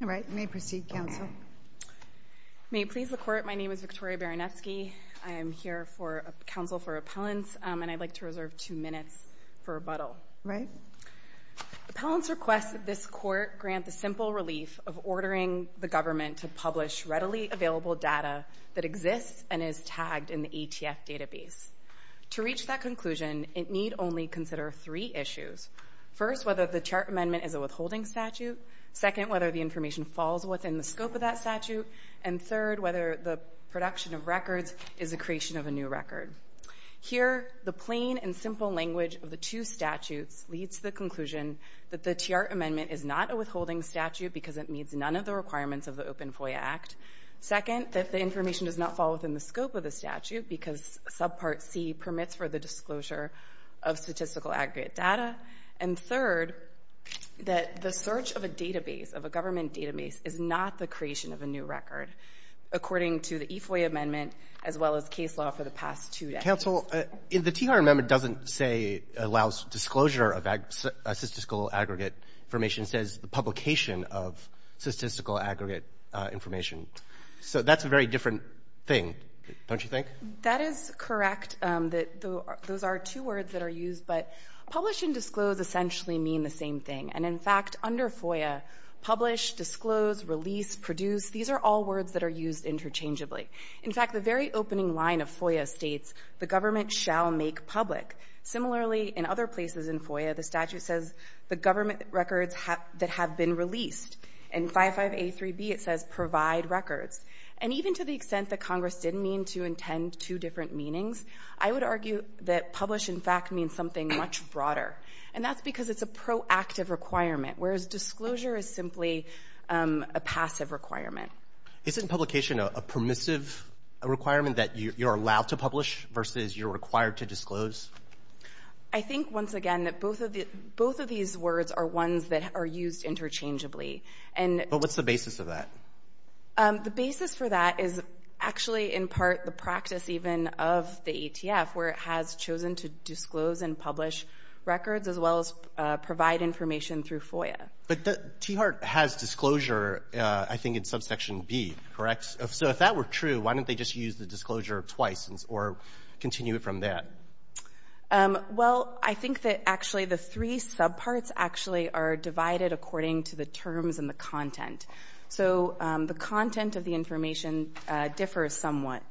May it please the Court, my name is Victoria Baranewski. I am here for counsel for appellants and I'd like to reserve two minutes for rebuttal. Appellants request that this Court grant the simple relief of ordering the government to publish readily available data that exists and is tagged in the ATF database. To reach that conclusion, it need only consider three the information falls within the scope of that statute, and third, whether the production of records is a creation of a new record. Here, the plain and simple language of the two statutes leads to the conclusion that the TR amendment is not a withholding statute because it meets none of the requirements of the Open FOIA Act. Second, that the information does not fall within the scope of the statute because Subpart C permits for the disclosure of statistical aggregate data. And third, that the search of a database, of a government database, is not the creation of a new record, according to the EFOIA amendment, as well as case law for the past two decades. Counsel, the TR amendment doesn't say, allows disclosure of statistical aggregate information. It says the publication of statistical aggregate information. So that's a very different thing, don't you think? That is correct. Those are two words that are used, but publish and disclose essentially mean the same thing. And in fact, under FOIA, publish, disclose, release, produce, these are all words that are used interchangeably. In fact, the very opening line of FOIA states, the government shall make public. Similarly, in other places in FOIA, the statute says the government records that have been released. In 55A3B, it says provide records. And even to the extent that Congress did mean to intend two different meanings, I would argue that publish, in fact, means something much broader. And that's because it's a proactive requirement, whereas disclosure is simply a passive requirement. Isn't publication a permissive requirement that you're allowed to publish versus you're required to disclose? I think, once again, that both of these words are ones that are used interchangeably. But what's the basis of that? The basis for that is actually, in part, the practice even of the ETF, where it has chosen to disclose and publish records, as well as provide information through FOIA. But the T-HART has disclosure, I think, in subsection B, correct? So if that were true, why didn't they just use the disclosure twice or continue it from there? Well, I think that actually the three subparts actually are divided according to the terms and the content. So the content of the information differs somewhat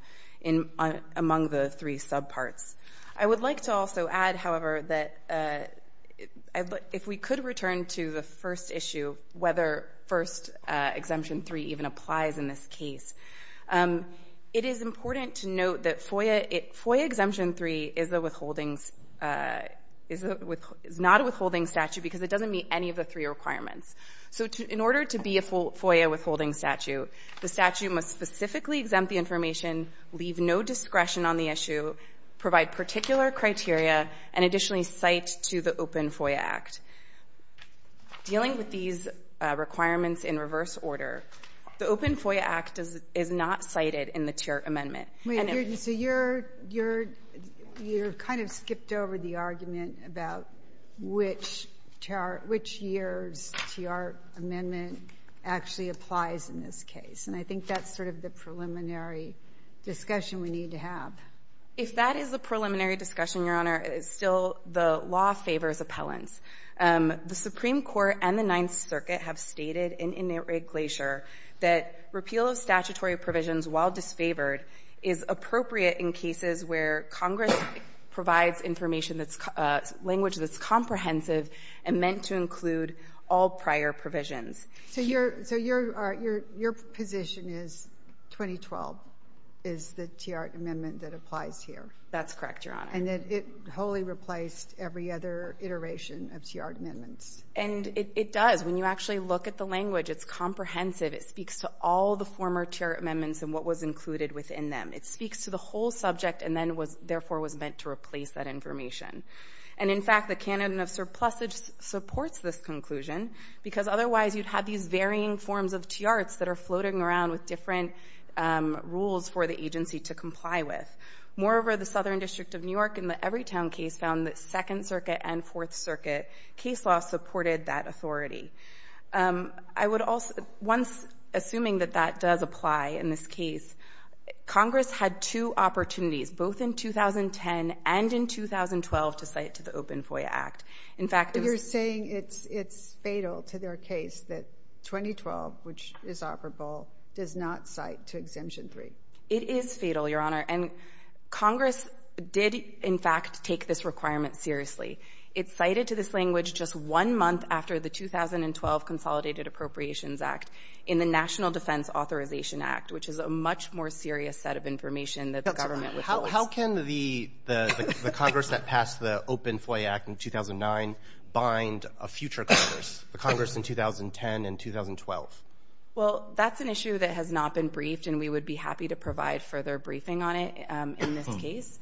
among the three subparts. I would like to also add, however, that if we could return to the first issue, whether first Exemption 3 even applies in this case, it is important to note that FOIA Exemption 3 is not a withholding statute because it doesn't meet any of the three requirements. So in order to be a FOIA withholding statute, the statute must specifically exempt the information, leave no discretion on the issue, provide particular criteria, and additionally cite to the Open FOIA Act. Dealing with these requirements in reverse order, the Open FOIA Act is not cited in the T-HART amendment. Wait, so you're kind of skipped over the argument about which year's T-HART amendment actually applies in this case. And I think that's sort of the preliminary discussion we need to have. If that is the preliminary discussion, Your Honor, it's still the law favors appellants. The Supreme Court and the Ninth Circuit have stated in Inerit Glacier that repeal of statutory provisions while disfavored is appropriate in cases where Congress provides information that's language that's comprehensive and meant to include all prior provisions. So your position is 2012 is the T-HART amendment that applies here? That's correct, Your Honor. And that it wholly replaced every other iteration of T-HART amendments? And it does. When you actually look at the language, it's comprehensive. It speaks to all the former T-HART amendments and what was included within them. It speaks to the whole subject and then therefore was meant to replace that information. And in fact, the canon of surplusage supports this conclusion because otherwise you'd have these varying forms of T-HARTS that are floating around with different rules for the agency to comply with. Moreover, the Southern District of New York in the Evertown case found that Second Circuit and Fourth Circuit case law supported that authority. I would also, once assuming that that does apply in this case, Congress had two opportunities, both in 2010 and in 2012, to cite to the Open FOIA Act. In fact, it was... that 2012, which is operable, does not cite to Exemption 3. It is fatal, Your Honor. And Congress did, in fact, take this requirement seriously. It cited to this language just one month after the 2012 Consolidated Appropriations Act in the National Defense Authorization Act, which is a much more serious set of information that the government withholds. How can the Congress that passed the Open FOIA Act in 2009 bind a future Congress? The Congress in 2010 and 2012? Well, that's an issue that has not been briefed, and we would be happy to provide further briefing on it in this case.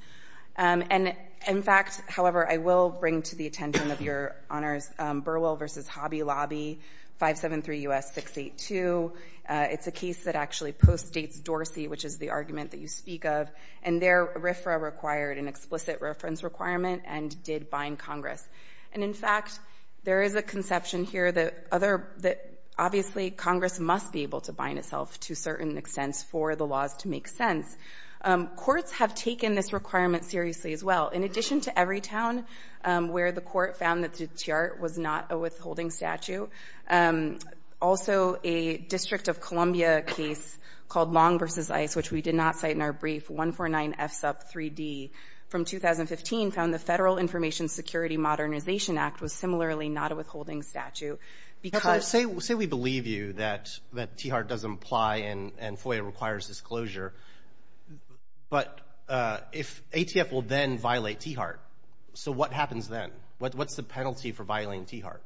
And in fact, however, I will bring to the attention of Your Honors, Burwell v. Hobby Lobby, 573 U.S. 682. It's a case that actually postdates Dorsey, which is the argument that you speak of, and there RFRA required an explicit reference requirement and did bind Congress. And in fact, there is a conception here that obviously Congress must be able to bind itself to certain extents for the laws to make sense. Courts have taken this requirement seriously as well. In addition to Everytown, where the court found that the tiart was not a withholding statute, also a District of Columbia case called Long v. Ice, which we did not cite in our brief, 149F sub 3D from 2015, found the Federal Information Security Modernization Act was similarly not a withholding statute. Say we believe you that tiart doesn't apply and FOIA requires disclosure, but if ATF will then violate tiart, so what happens then? What's the penalty for violating tiart?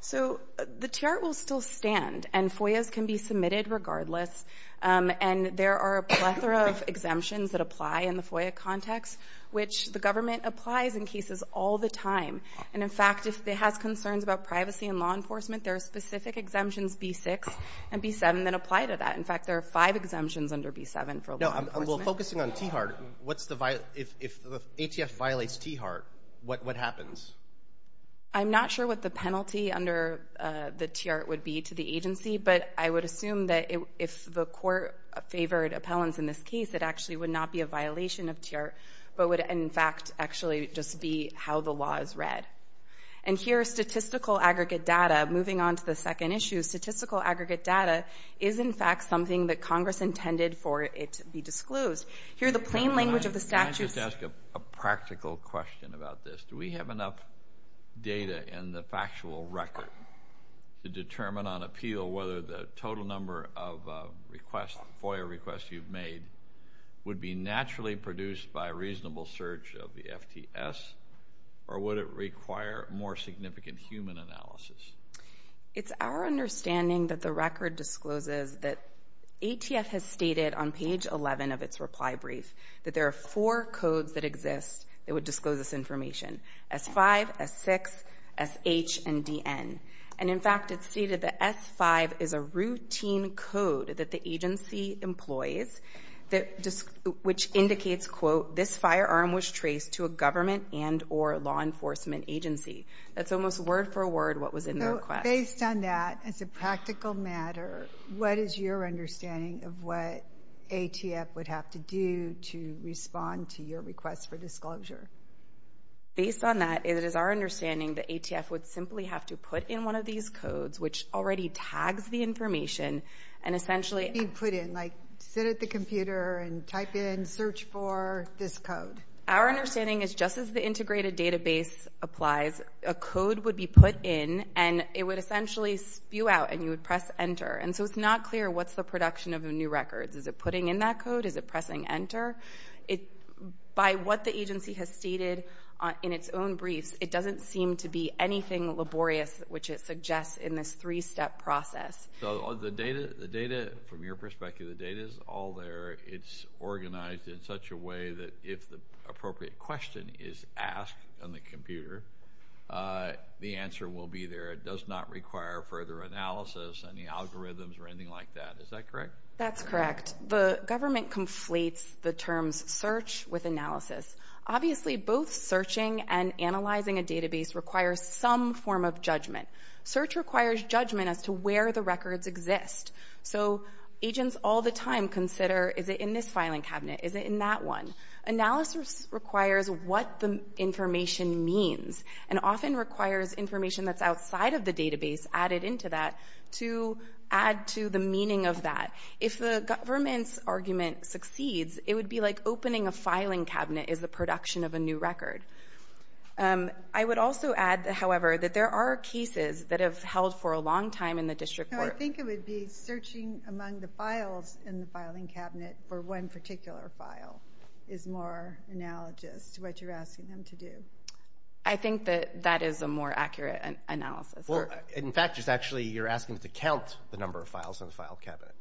So the tiart will still stand, and FOIAs can be submitted regardless. And there are a plethora of exemptions that apply in the FOIA context, which the government applies in cases all the time. And in fact, if it has concerns about privacy and law enforcement, there are specific exemptions, B-6 and B-7, that apply to that. In fact, there are five exemptions under B-7 for law enforcement. Well, focusing on tiart, if ATF violates tiart, what happens? I'm not sure what the penalty under the tiart would be to the agency, but I would assume that if the court favored appellants in this case, it actually would not be a violation of tiart, but would, in fact, actually just be how the law is read. And here, statistical aggregate data, moving on to the second issue, statistical aggregate data is, in fact, something that Congress intended for it to be disclosed. Here, the plain language of the statute – data in the factual record to determine on appeal whether the total number of FOIA requests you've made would be naturally produced by a reasonable search of the FTS, or would it require more significant human analysis? It's our understanding that the record discloses that ATF has stated on page 11 of its reply brief that there are four codes that exist that would disclose this information – S-5, S-6, S-H, and D-N. And, in fact, it's stated that S-5 is a routine code that the agency employs, which indicates, quote, this firearm was traced to a government and or law enforcement agency. That's almost word for word what was in the request. Based on that, as a practical matter, what is your understanding of what ATF would have to do to respond to your request for disclosure? Based on that, it is our understanding that ATF would simply have to put in one of these codes, which already tags the information, and essentially – Be put in, like sit at the computer and type in, search for this code. Our understanding is just as the integrated database applies, a code would be put in, and it would essentially spew out, and you would press enter. And so it's not clear what's the production of a new record. Is it putting in that code? Is it pressing enter? By what the agency has stated in its own briefs, it doesn't seem to be anything laborious which it suggests in this three-step process. So the data, from your perspective, the data is all there. It's organized in such a way that if the appropriate question is asked on the computer, the answer will be there. It does not require further analysis, any algorithms, or anything like that. Is that correct? That's correct. The government conflates the terms search with analysis. Obviously, both searching and analyzing a database requires some form of judgment. Search requires judgment as to where the records exist. So agents all the time consider, is it in this filing cabinet? Is it in that one? Analysis requires what the information means and often requires information that's outside of the database added into that to add to the meaning of that. If the government's argument succeeds, it would be like opening a filing cabinet is the production of a new record. I would also add, however, that there are cases that have held for a long time in the district court. I think it would be searching among the files in the filing cabinet for one particular file is more analogous to what you're asking them to do. I think that that is a more accurate analysis. In fact, you're asking them to count the number of files in the file cabinet.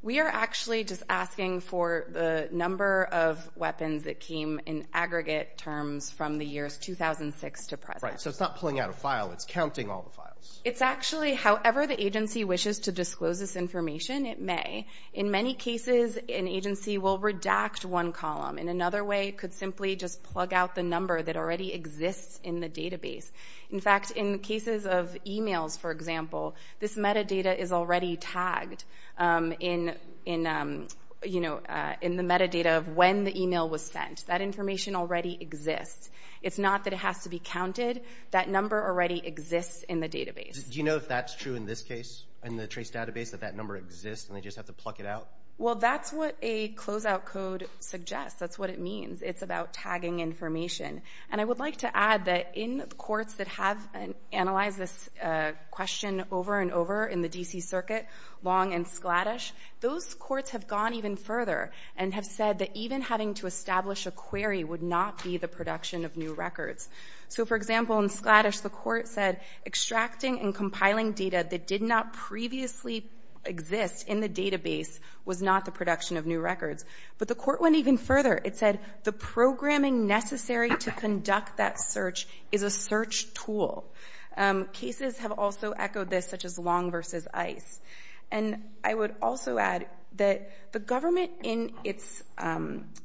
We are actually just asking for the number of weapons that came in aggregate terms from the years 2006 to present. So it's not pulling out a file, it's counting all the files. It's actually, however the agency wishes to disclose this information, it may. In many cases, an agency will redact one column. In another way, it could simply just plug out the number that already exists in the database. In fact, in cases of emails, for example, this metadata is already tagged in the metadata of when the email was sent. That information already exists. It's not that it has to be counted. That number already exists in the database. Do you know if that's true in this case, in the trace database, that that number exists and they just have to pluck it out? Well, that's what a closeout code suggests. That's what it means. It's about tagging information. And I would like to add that in courts that have analyzed this question over and over in the D.C. Circuit, Long and Skladysh, those courts have gone even further and have said that even having to establish a query would not be the production of new records. So, for example, in Skladysh, the court said extracting and compiling data that did not previously exist in the database was not the production of new records. But the court went even further. It said the programming necessary to conduct that search is a search tool. Cases have also echoed this, such as Long v. Ice. And I would also add that the government, in its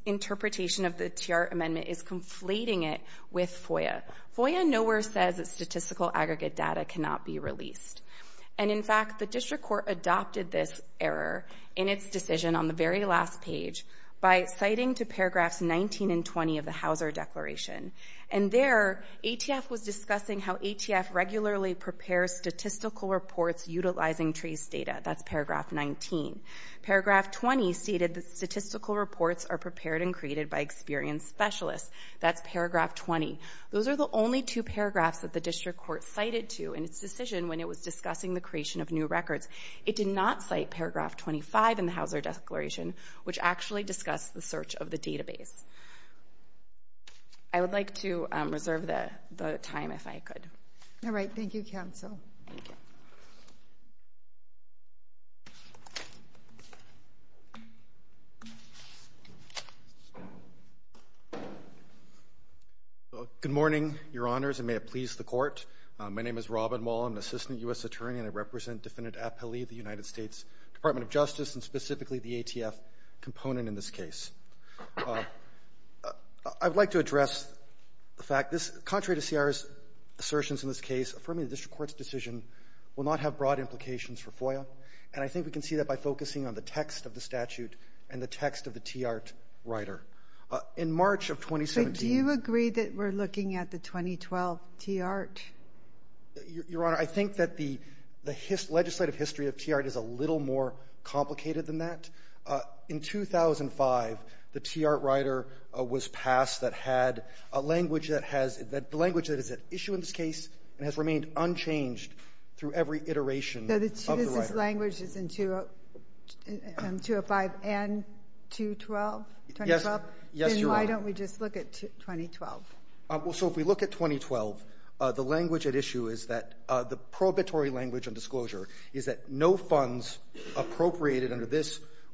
interpretation of the TR amendment, is conflating it with FOIA. FOIA nowhere says that statistical aggregate data cannot be released. And, in fact, the district court adopted this error in its decision on the very last page by citing to paragraphs 19 and 20 of the Hauser Declaration. And there, ATF was discussing how ATF regularly prepares statistical reports utilizing trace data. That's paragraph 19. Paragraph 20 stated that statistical reports are prepared and created by experienced specialists. That's paragraph 20. Those are the only two paragraphs that the district court cited to in its decision when it was discussing the creation of new records. It did not cite paragraph 25 in the Hauser Declaration, which actually discussed the search of the database. I would like to reserve the time if I could. All right. Thank you, counsel. Thank you. Good morning, Your Honors, and may it please the court. My name is Robin Wall. I'm an assistant U.S. attorney, and I represent Defendant Appali, the United States Department of Justice, and specifically the ATF component in this case. I would like to address the fact this, contrary to C.R.'s assertions in this case, affirming the district court's decision will not have broad implications for FOIA, and I think we can see that by focusing on the text of the statute and the text of the Tiahrt writer. In March of 2017 — But do you agree that we're looking at the 2012 Tiahrt? Your Honor, I think that the legislative history of Tiahrt is a little more complicated than that. In 2005, the Tiahrt writer was passed that had a language that is at issue in this case and has remained unchanged through every iteration of the writer. So this language is in 205 and 212? Yes, Your Honor. Then why don't we just look at 2012? So if we look at 2012, the language at issue is that —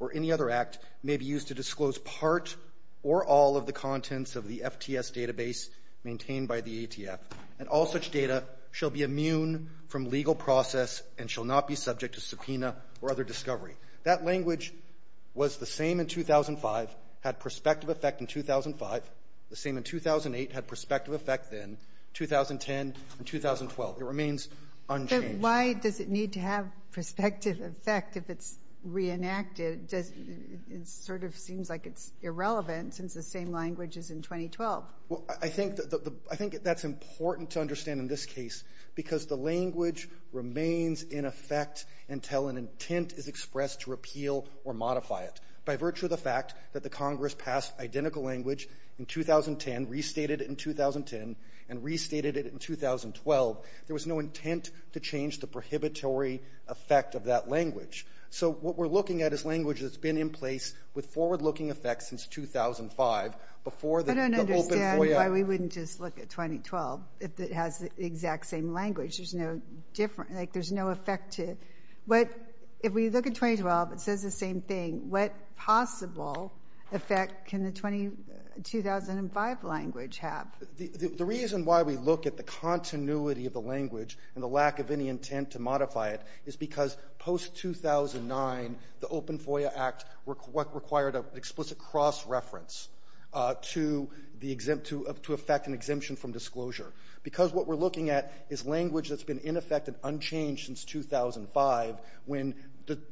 or any other act may be used to disclose part or all of the contents of the FTS database maintained by the ATF, and all such data shall be immune from legal process and shall not be subject to subpoena or other discovery. That language was the same in 2005, had prospective effect in 2005, the same in 2008, had prospective effect then, 2010, and 2012. It remains unchanged. Why does it need to have prospective effect if it's reenacted? It sort of seems like it's irrelevant since the same language is in 2012. Well, I think that's important to understand in this case because the language remains in effect until an intent is expressed to repeal or modify it. By virtue of the fact that the Congress passed identical language in 2010, restated it in 2010, and restated it in 2012, there was no intent to change the prohibitory effect of that language. So what we're looking at is language that's been in place with forward-looking effect since 2005. I don't understand why we wouldn't just look at 2012 if it has the exact same language. There's no effect to it. If we look at 2012, it says the same thing. What possible effect can the 2005 language have? The reason why we look at the continuity of the language and the lack of any intent to modify it is because post-2009, the Open FOIA Act required an explicit cross-reference to effect an exemption from disclosure because what we're looking at is language that's been in effect and unchanged since 2005 when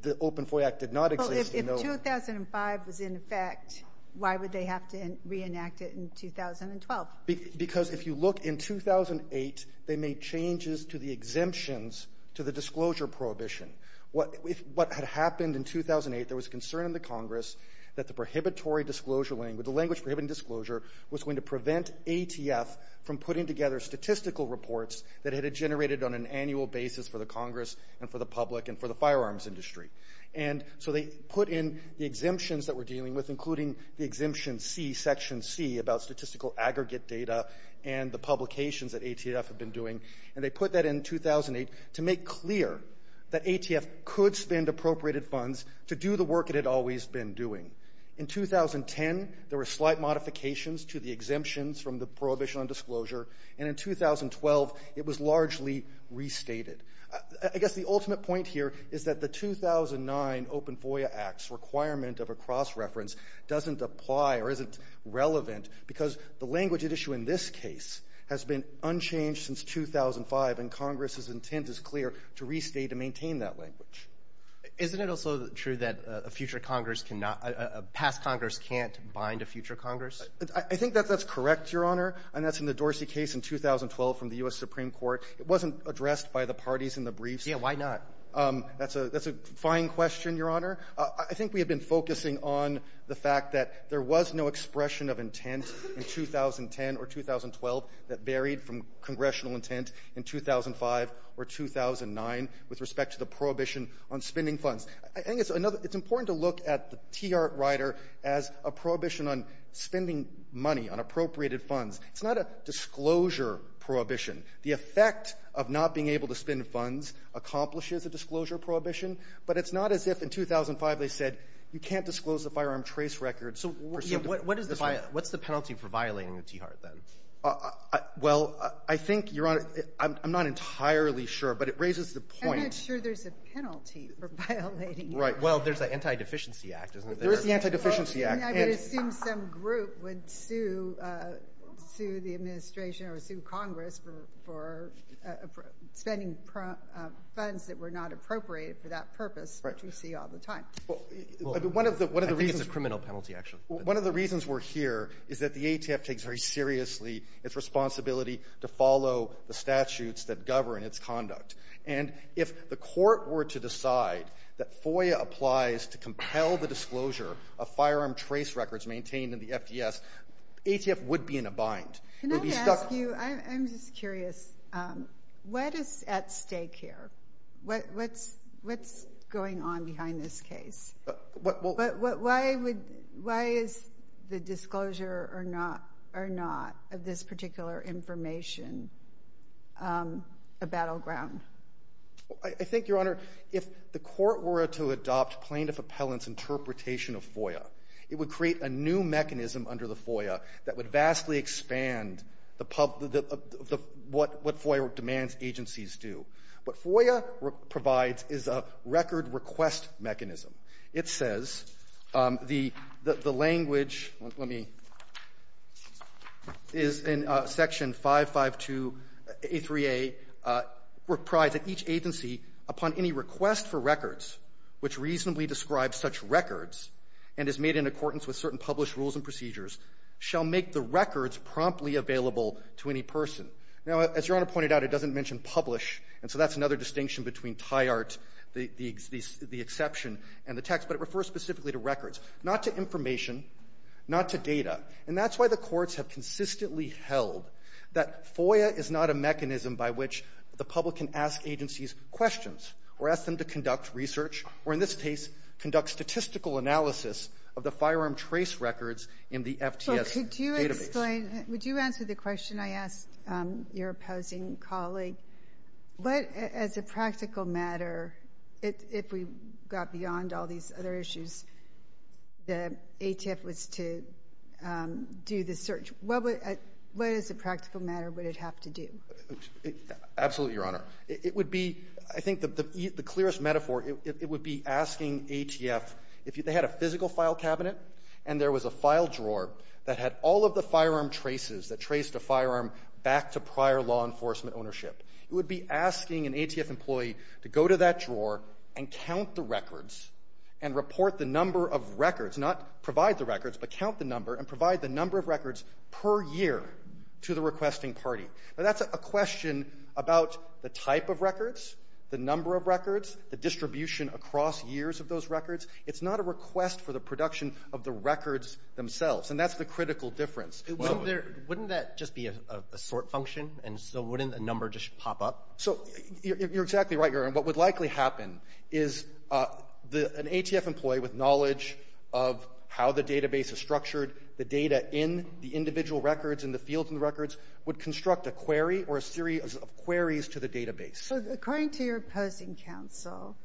the Open FOIA Act did not exist. If 2005 was in effect, why would they have to reenact it in 2012? Because if you look in 2008, they made changes to the exemptions to the disclosure prohibition. What had happened in 2008, there was concern in the Congress that the language prohibiting disclosure was going to prevent ATF from putting together statistical reports that it had generated on an annual basis for the Congress and for the public and for the firearms industry. And so they put in the exemptions that we're dealing with, including the Exemption C, Section C, about statistical aggregate data and the publications that ATF had been doing, and they put that in 2008 to make clear that ATF could spend appropriated funds to do the work it had always been doing. In 2010, there were slight modifications to the exemptions from the prohibition on disclosure, and in 2012, it was largely restated. I guess the ultimate point here is that the 2009 Open FOIA Act's requirement of a cross-reference doesn't apply or isn't relevant because the language at issue in this case has been unchanged since 2005, and Congress's intent is clear to restate and maintain that language. Isn't it also true that a future Congress cannot – a past Congress can't bind a future Congress? I think that that's correct, Your Honor, and that's in the Dorsey case in 2012 from the U.S. Supreme Court. It wasn't addressed by the parties in the briefs. Yeah, why not? That's a – that's a fine question, Your Honor. I think we have been focusing on the fact that there was no expression of intent in 2010 or 2012 that varied from congressional intent in 2005 or 2009 with respect to the prohibition on spending funds. I think it's another – it's important to look at the T.R. Ryder as a prohibition on spending money on appropriated funds. It's not a disclosure prohibition. The effect of not being able to spend funds accomplishes a disclosure prohibition, but it's not as if in 2005 they said you can't disclose the firearm trace record. So what is the – what's the penalty for violating the T.R. then? Well, I think, Your Honor, I'm not entirely sure, but it raises the point. I'm not sure there's a penalty for violating the T.R. Right, well, there's the Anti-Deficiency Act, isn't there? There is the Anti-Deficiency Act. I mean, I would assume some group would sue the administration or sue Congress for spending funds that were not appropriated for that purpose, which we see all the time. Well, I think it's a criminal penalty, actually. One of the reasons we're here is that the ATF takes very seriously its responsibility to follow the statutes that govern its conduct. And if the Court were to decide that FOIA applies to compel the disclosure of firearm trace records maintained in the FDS, ATF would be in a bind. Can I ask you, I'm just curious, what is at stake here? What's going on behind this case? Why is the disclosure or not of this particular information a battleground? I think, Your Honor, if the Court were to adopt plaintiff appellant's interpretation of FOIA, it would create a new mechanism under the FOIA that would vastly expand the public the what FOIA demands agencies do. What FOIA provides is a record request mechanism. It says the language, let me, is in Section 552a3a, reprides that each agency upon any request for records which reasonably describes such records and is made in accordance with certain published rules and procedures shall make the records promptly available to any person. Now, as Your Honor pointed out, it doesn't mention publish, and so that's another distinction between tie art, the exception and the text, but it refers specifically to records, not to information, not to data. And that's why the courts have consistently held that FOIA is not a mechanism by which the public can ask agencies questions or ask them to conduct research or, in this case, conduct statistical analysis of the firearm trace records in the FTS database. So could you explain? Would you answer the question I asked your opposing colleague? What, as a practical matter, if we got beyond all these other issues, the ATF was to do the search. What would as a practical matter would it have to do? Absolutely, Your Honor. It would be, I think the clearest metaphor, it would be asking ATF if they had a physical file cabinet and there was a file drawer that had all of the firearm traces that traced a firearm back to prior law enforcement ownership. It would be asking an ATF employee to go to that drawer and count the records and report the number of records, not provide the records, but count the number and provide the number of records per year to the requesting party. Now, that's a question about the type of records, the number of records, the distribution across years of those records. It's not a request for the production of the records themselves. And that's the critical difference. Wouldn't that just be a sort function? And so wouldn't a number just pop up? So you're exactly right, Your Honor. What would likely happen is an ATF employee with knowledge of how the database is structured, the data in the individual records and the fields in the records would construct a query or a series of queries to the database. According to your opposing counsel,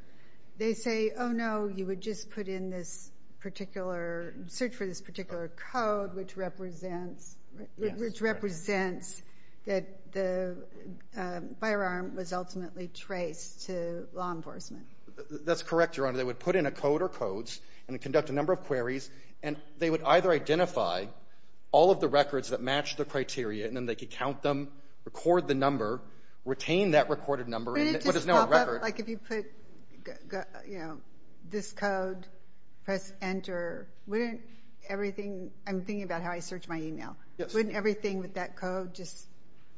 they say, oh, no, you would just put in this particular, search for this particular code which represents that the firearm was ultimately traced to law enforcement. That's correct, Your Honor. They would put in a code or codes and conduct a number of queries, and they would either identify all of the records that match the criteria, and then they could count them, record the number, retain that recorded number, but there's no record. Wouldn't it just pop up? Like if you put, you know, this code, press enter, wouldn't everything – I'm thinking about how I search my email. Yes. Wouldn't everything with that code just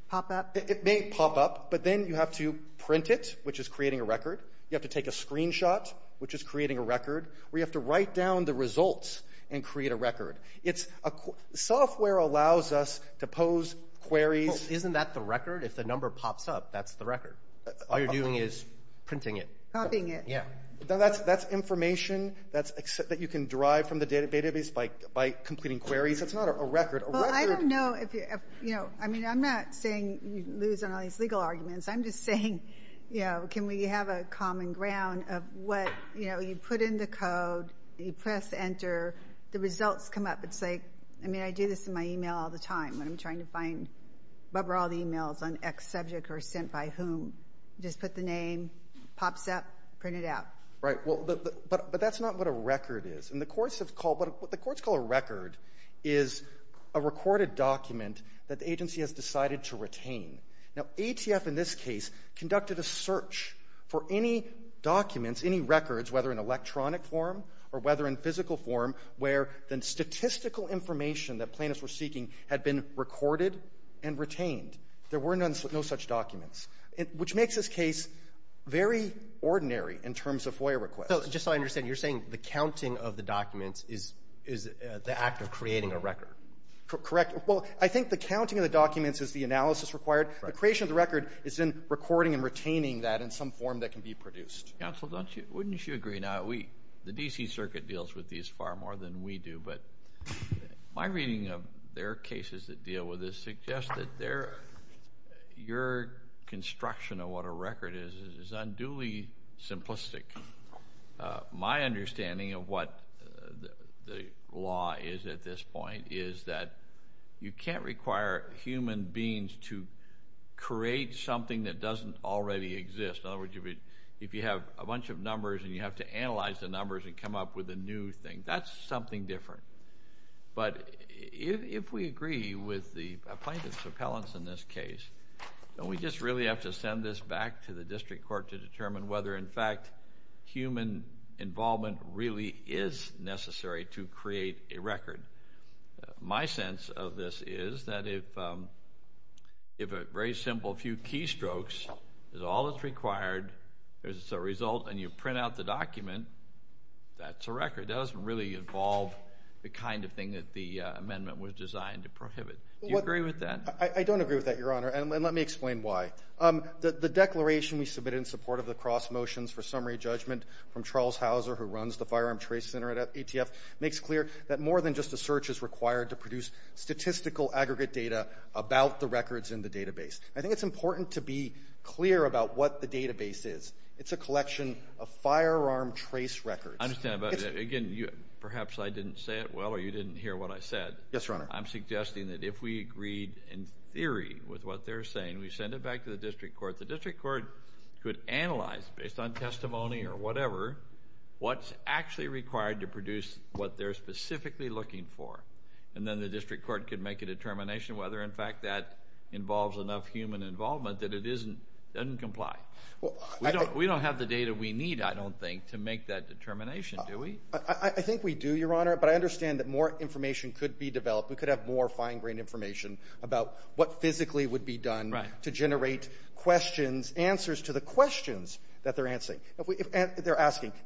pop up? It may pop up, but then you have to print it, which is creating a record. You have to take a screenshot, which is creating a record. We have to write down the results and create a record. Software allows us to pose queries. Well, isn't that the record? If the number pops up, that's the record. All you're doing is printing it. Popping it. Yes. That's information that you can derive from the database by completing queries. It's not a record. Well, I don't know if – I mean, I'm not saying you lose on all these legal arguments. I'm just saying, you know, can we have a common ground of what, you know, you put in the code, you press enter, the results come up. It's like – I mean, I do this in my email all the time when I'm trying to find what were all the emails on X subject or sent by whom. Just put the name. Pops up. Print it out. Right. Well, but that's not what a record is. And the courts have called – what the courts call a record is a recorded document that the agency has decided to retain. Now, ATF in this case conducted a search for any documents, any records, whether in electronic form or whether in physical form where the statistical information that plaintiffs were seeking had been recorded and retained. There were no such documents, which makes this case very ordinary in terms of FOIA requests. Just so I understand, you're saying the counting of the documents is the act of creating a record. Correct. Well, I think the counting of the documents is the analysis required. The creation of the record is in recording and retaining that in some form that can be produced. Counsel, wouldn't you agree? Now, the D.C. Circuit deals with these far more than we do, but my reading of their cases that deal with this suggests that your construction of what a record is is unduly simplistic. My understanding of what the law is at this point is that you can't require human beings to create something that doesn't already exist. In other words, if you have a bunch of numbers and you have to analyze the numbers and come up with a new thing, that's something different. But if we agree with the plaintiffs' appellants in this case, don't we just really have to send this back to the district court to determine whether, in fact, human involvement really is necessary to create a record? My sense of this is that if a very simple few keystrokes is all that's required as a result and you print out the document, that's a record. That doesn't really involve the kind of thing that the amendment was designed to prohibit. Do you agree with that? I don't agree with that, Your Honor, and let me explain why. The declaration we submitted in support of the cross motions for summary judgment from Charles Hauser, who runs the Firearm Trace Center at ATF, makes clear that more than just a search is required to produce statistical aggregate data about the records in the database. I think it's important to be clear about what the database is. It's a collection of firearm trace records. I understand. Again, perhaps I didn't say it well or you didn't hear what I said. Yes, Your Honor. I'm suggesting that if we agreed in theory with what they're saying, we send it back to the district court. The district court could analyze, based on testimony or whatever, what's actually required to produce what they're specifically looking for, and then the district court could make a determination whether, in fact, that involves enough human involvement that it doesn't comply. We don't have the data we need, I don't think, to make that determination, do we? I think we do, Your Honor, but I understand that more information could be developed. We could have more fine-grained information about what physically would be required to generate questions, answers to the questions that they're asking.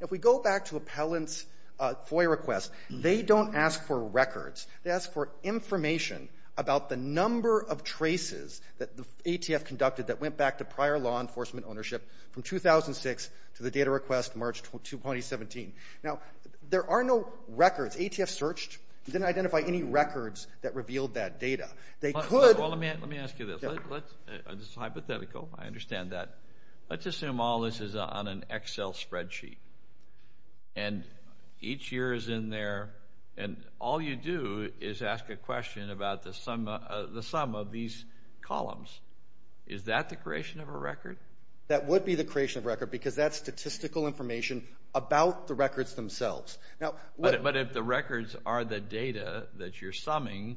If we go back to appellant's FOIA request, they don't ask for records. They ask for information about the number of traces that the ATF conducted that went back to prior law enforcement ownership from 2006 to the data request March 2017. Now, there are no records. ATF searched, didn't identify any records that revealed that data. Let me ask you this. This is hypothetical, I understand that. Let's assume all this is on an Excel spreadsheet, and each year is in there, and all you do is ask a question about the sum of these columns. Is that the creation of a record? That would be the creation of a record because that's statistical information about the records themselves. But if the records are the data that you're summing,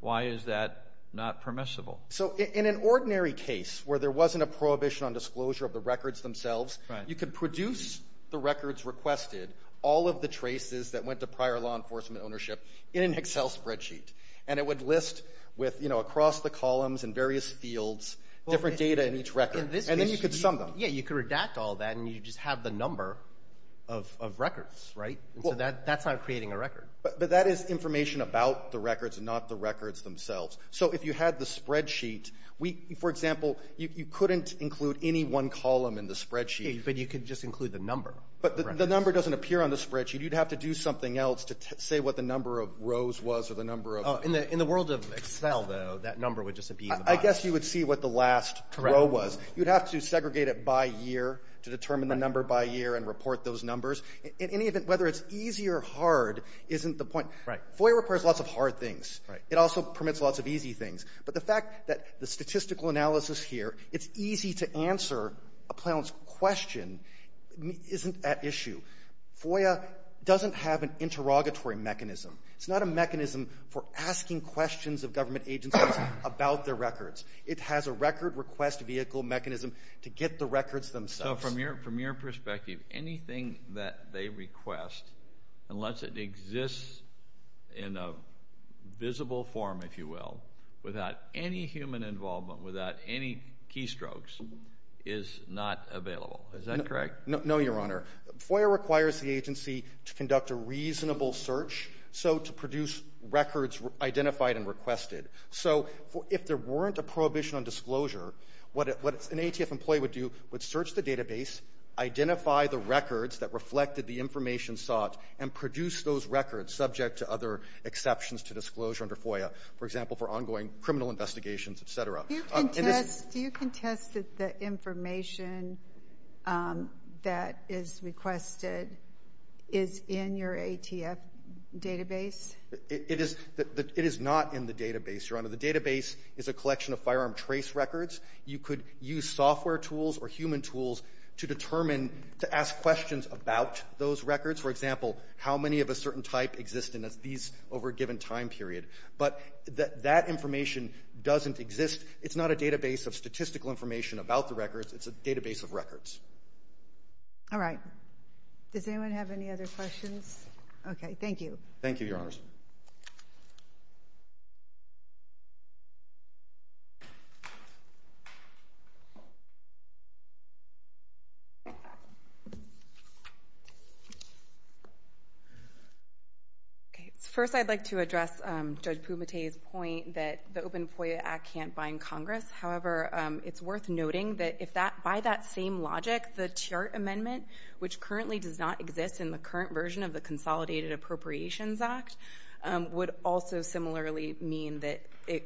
why is that not permissible? In an ordinary case where there wasn't a prohibition on disclosure of the records themselves, you could produce the records requested, all of the traces that went to prior law enforcement ownership in an Excel spreadsheet, and it would list across the columns in various fields different data in each record, and then you could sum them. Yeah, you could redact all that and you'd just have the number of records, right? So that's not creating a record. But that is information about the records and not the records themselves. So if you had the spreadsheet, for example, you couldn't include any one column in the spreadsheet. Yeah, but you could just include the number. But the number doesn't appear on the spreadsheet. You'd have to do something else to say what the number of rows was or the number of… In the world of Excel, though, that number would just appear in the bottom. I guess you would see what the last row was. Correct. You would have to segregate it by year to determine the number by year and report those numbers. In any event, whether it's easy or hard isn't the point. Right. FOIA requires lots of hard things. Right. It also permits lots of easy things. But the fact that the statistical analysis here, it's easy to answer a Plowman's question, isn't at issue. FOIA doesn't have an interrogatory mechanism. It's not a mechanism for asking questions of government agencies about their records. It has a record request vehicle mechanism to get the records themselves. So from your perspective, anything that they request, unless it exists in a visible form, if you will, without any human involvement, without any keystrokes, is not available. Is that correct? No, Your Honor. FOIA requires the agency to conduct a reasonable search, so to produce records identified and requested. So if there weren't a prohibition on disclosure, what an ATF employee would do would search the database, identify the records that reflected the information sought, and produce those records subject to other exceptions to disclosure under FOIA, for example, for ongoing criminal investigations, et cetera. Do you contest that the information that is requested is in your ATF database? It is not in the database, Your Honor. The database is a collection of firearm trace records. You could use software tools or human tools to determine, to ask questions about those records. For example, how many of a certain type exist in these over a given time period. But that information doesn't exist. It's not a database of statistical information about the records. It's a database of records. All right. Does anyone have any other questions? Okay, thank you. Thank you, Your Honors. First, I'd like to address Judge Pumate's point that the Open FOIA Act can't bind Congress. However, it's worth noting that by that same logic, the Tiart Amendment, which currently does not exist in the current version of the Consolidated Appropriations Act, would also similarly mean that the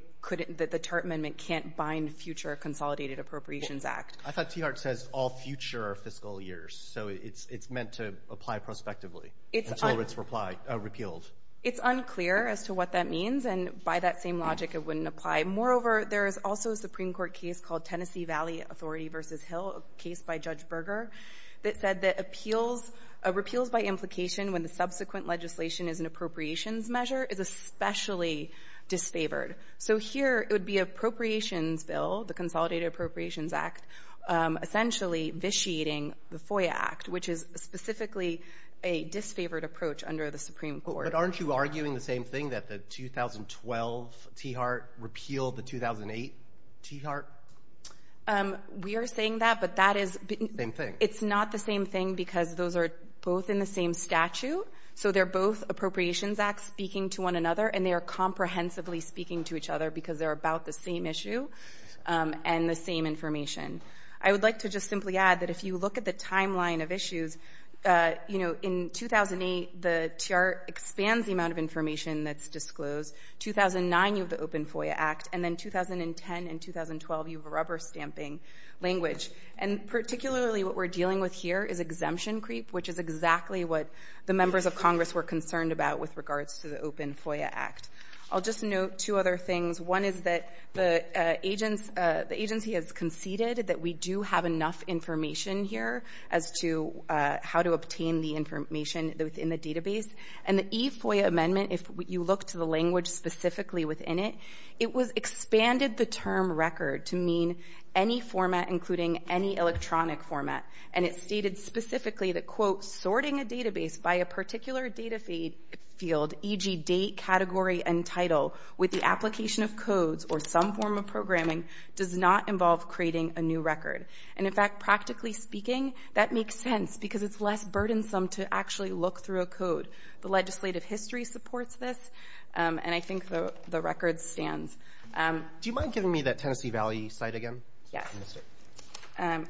Tiart Amendment can't bind future Consolidated Appropriations Act. I thought Tiart says all future fiscal years, so it's meant to apply prospectively until it's repealed. It's unclear as to what that means, and by that same logic, it wouldn't apply. Moreover, there is also a Supreme Court case called Tennessee Valley Authority v. Hill, a case by Judge Berger, that said that repeals by implication when the subsequent legislation is an appropriations measure is especially disfavored. So here, it would be appropriations bill, the Consolidated Appropriations Act, essentially vitiating the FOIA Act, which is specifically a disfavored approach under the Supreme Court. But aren't you arguing the same thing, that the 2012 Tiart repealed the 2008 Tiart? We are saying that, but that is... Same thing. It's not the same thing because those are both in the same statute, so they're both appropriations acts speaking to one another, and they are comprehensively speaking to each other because they're about the same issue and the same information. I would like to just simply add that if you look at the timeline of issues, in 2008, the Tiart expands the amount of information that's disclosed. 2009, you have the Open FOIA Act, and then 2010 and 2012, you have a rubber stamping language. And particularly, what we're dealing with here is exemption creep, which is exactly what the members of Congress were concerned about with regards to the Open FOIA Act. I'll just note two other things. One is that the agency has conceded that we do have enough information here as to how to obtain the information within the database. And the e-FOIA amendment, if you look to the language specifically within it, it expanded the term record to mean any format, including any electronic format. And it stated specifically that, quote, sorting a database by a particular data field, e.g. date, category, and title, with the application of codes or some form of programming does not involve creating a new record. And in fact, practically speaking, that makes sense because it's less complicated. The legislative history supports this, and I think the record stands. Do you mind giving me that Tennessee Valley site again? Yes.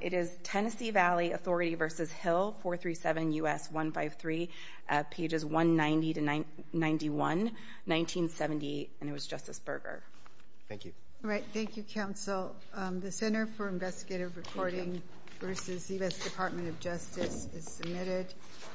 It is Tennessee Valley Authority v. Hill, 437 U.S. 153, pages 190 to 91, 1970, and it was Justice Berger. Thank you. All right. Thank you, counsel. The Center for Investigative Reporting v. U.S. Department of Justice is submitted. Thank you.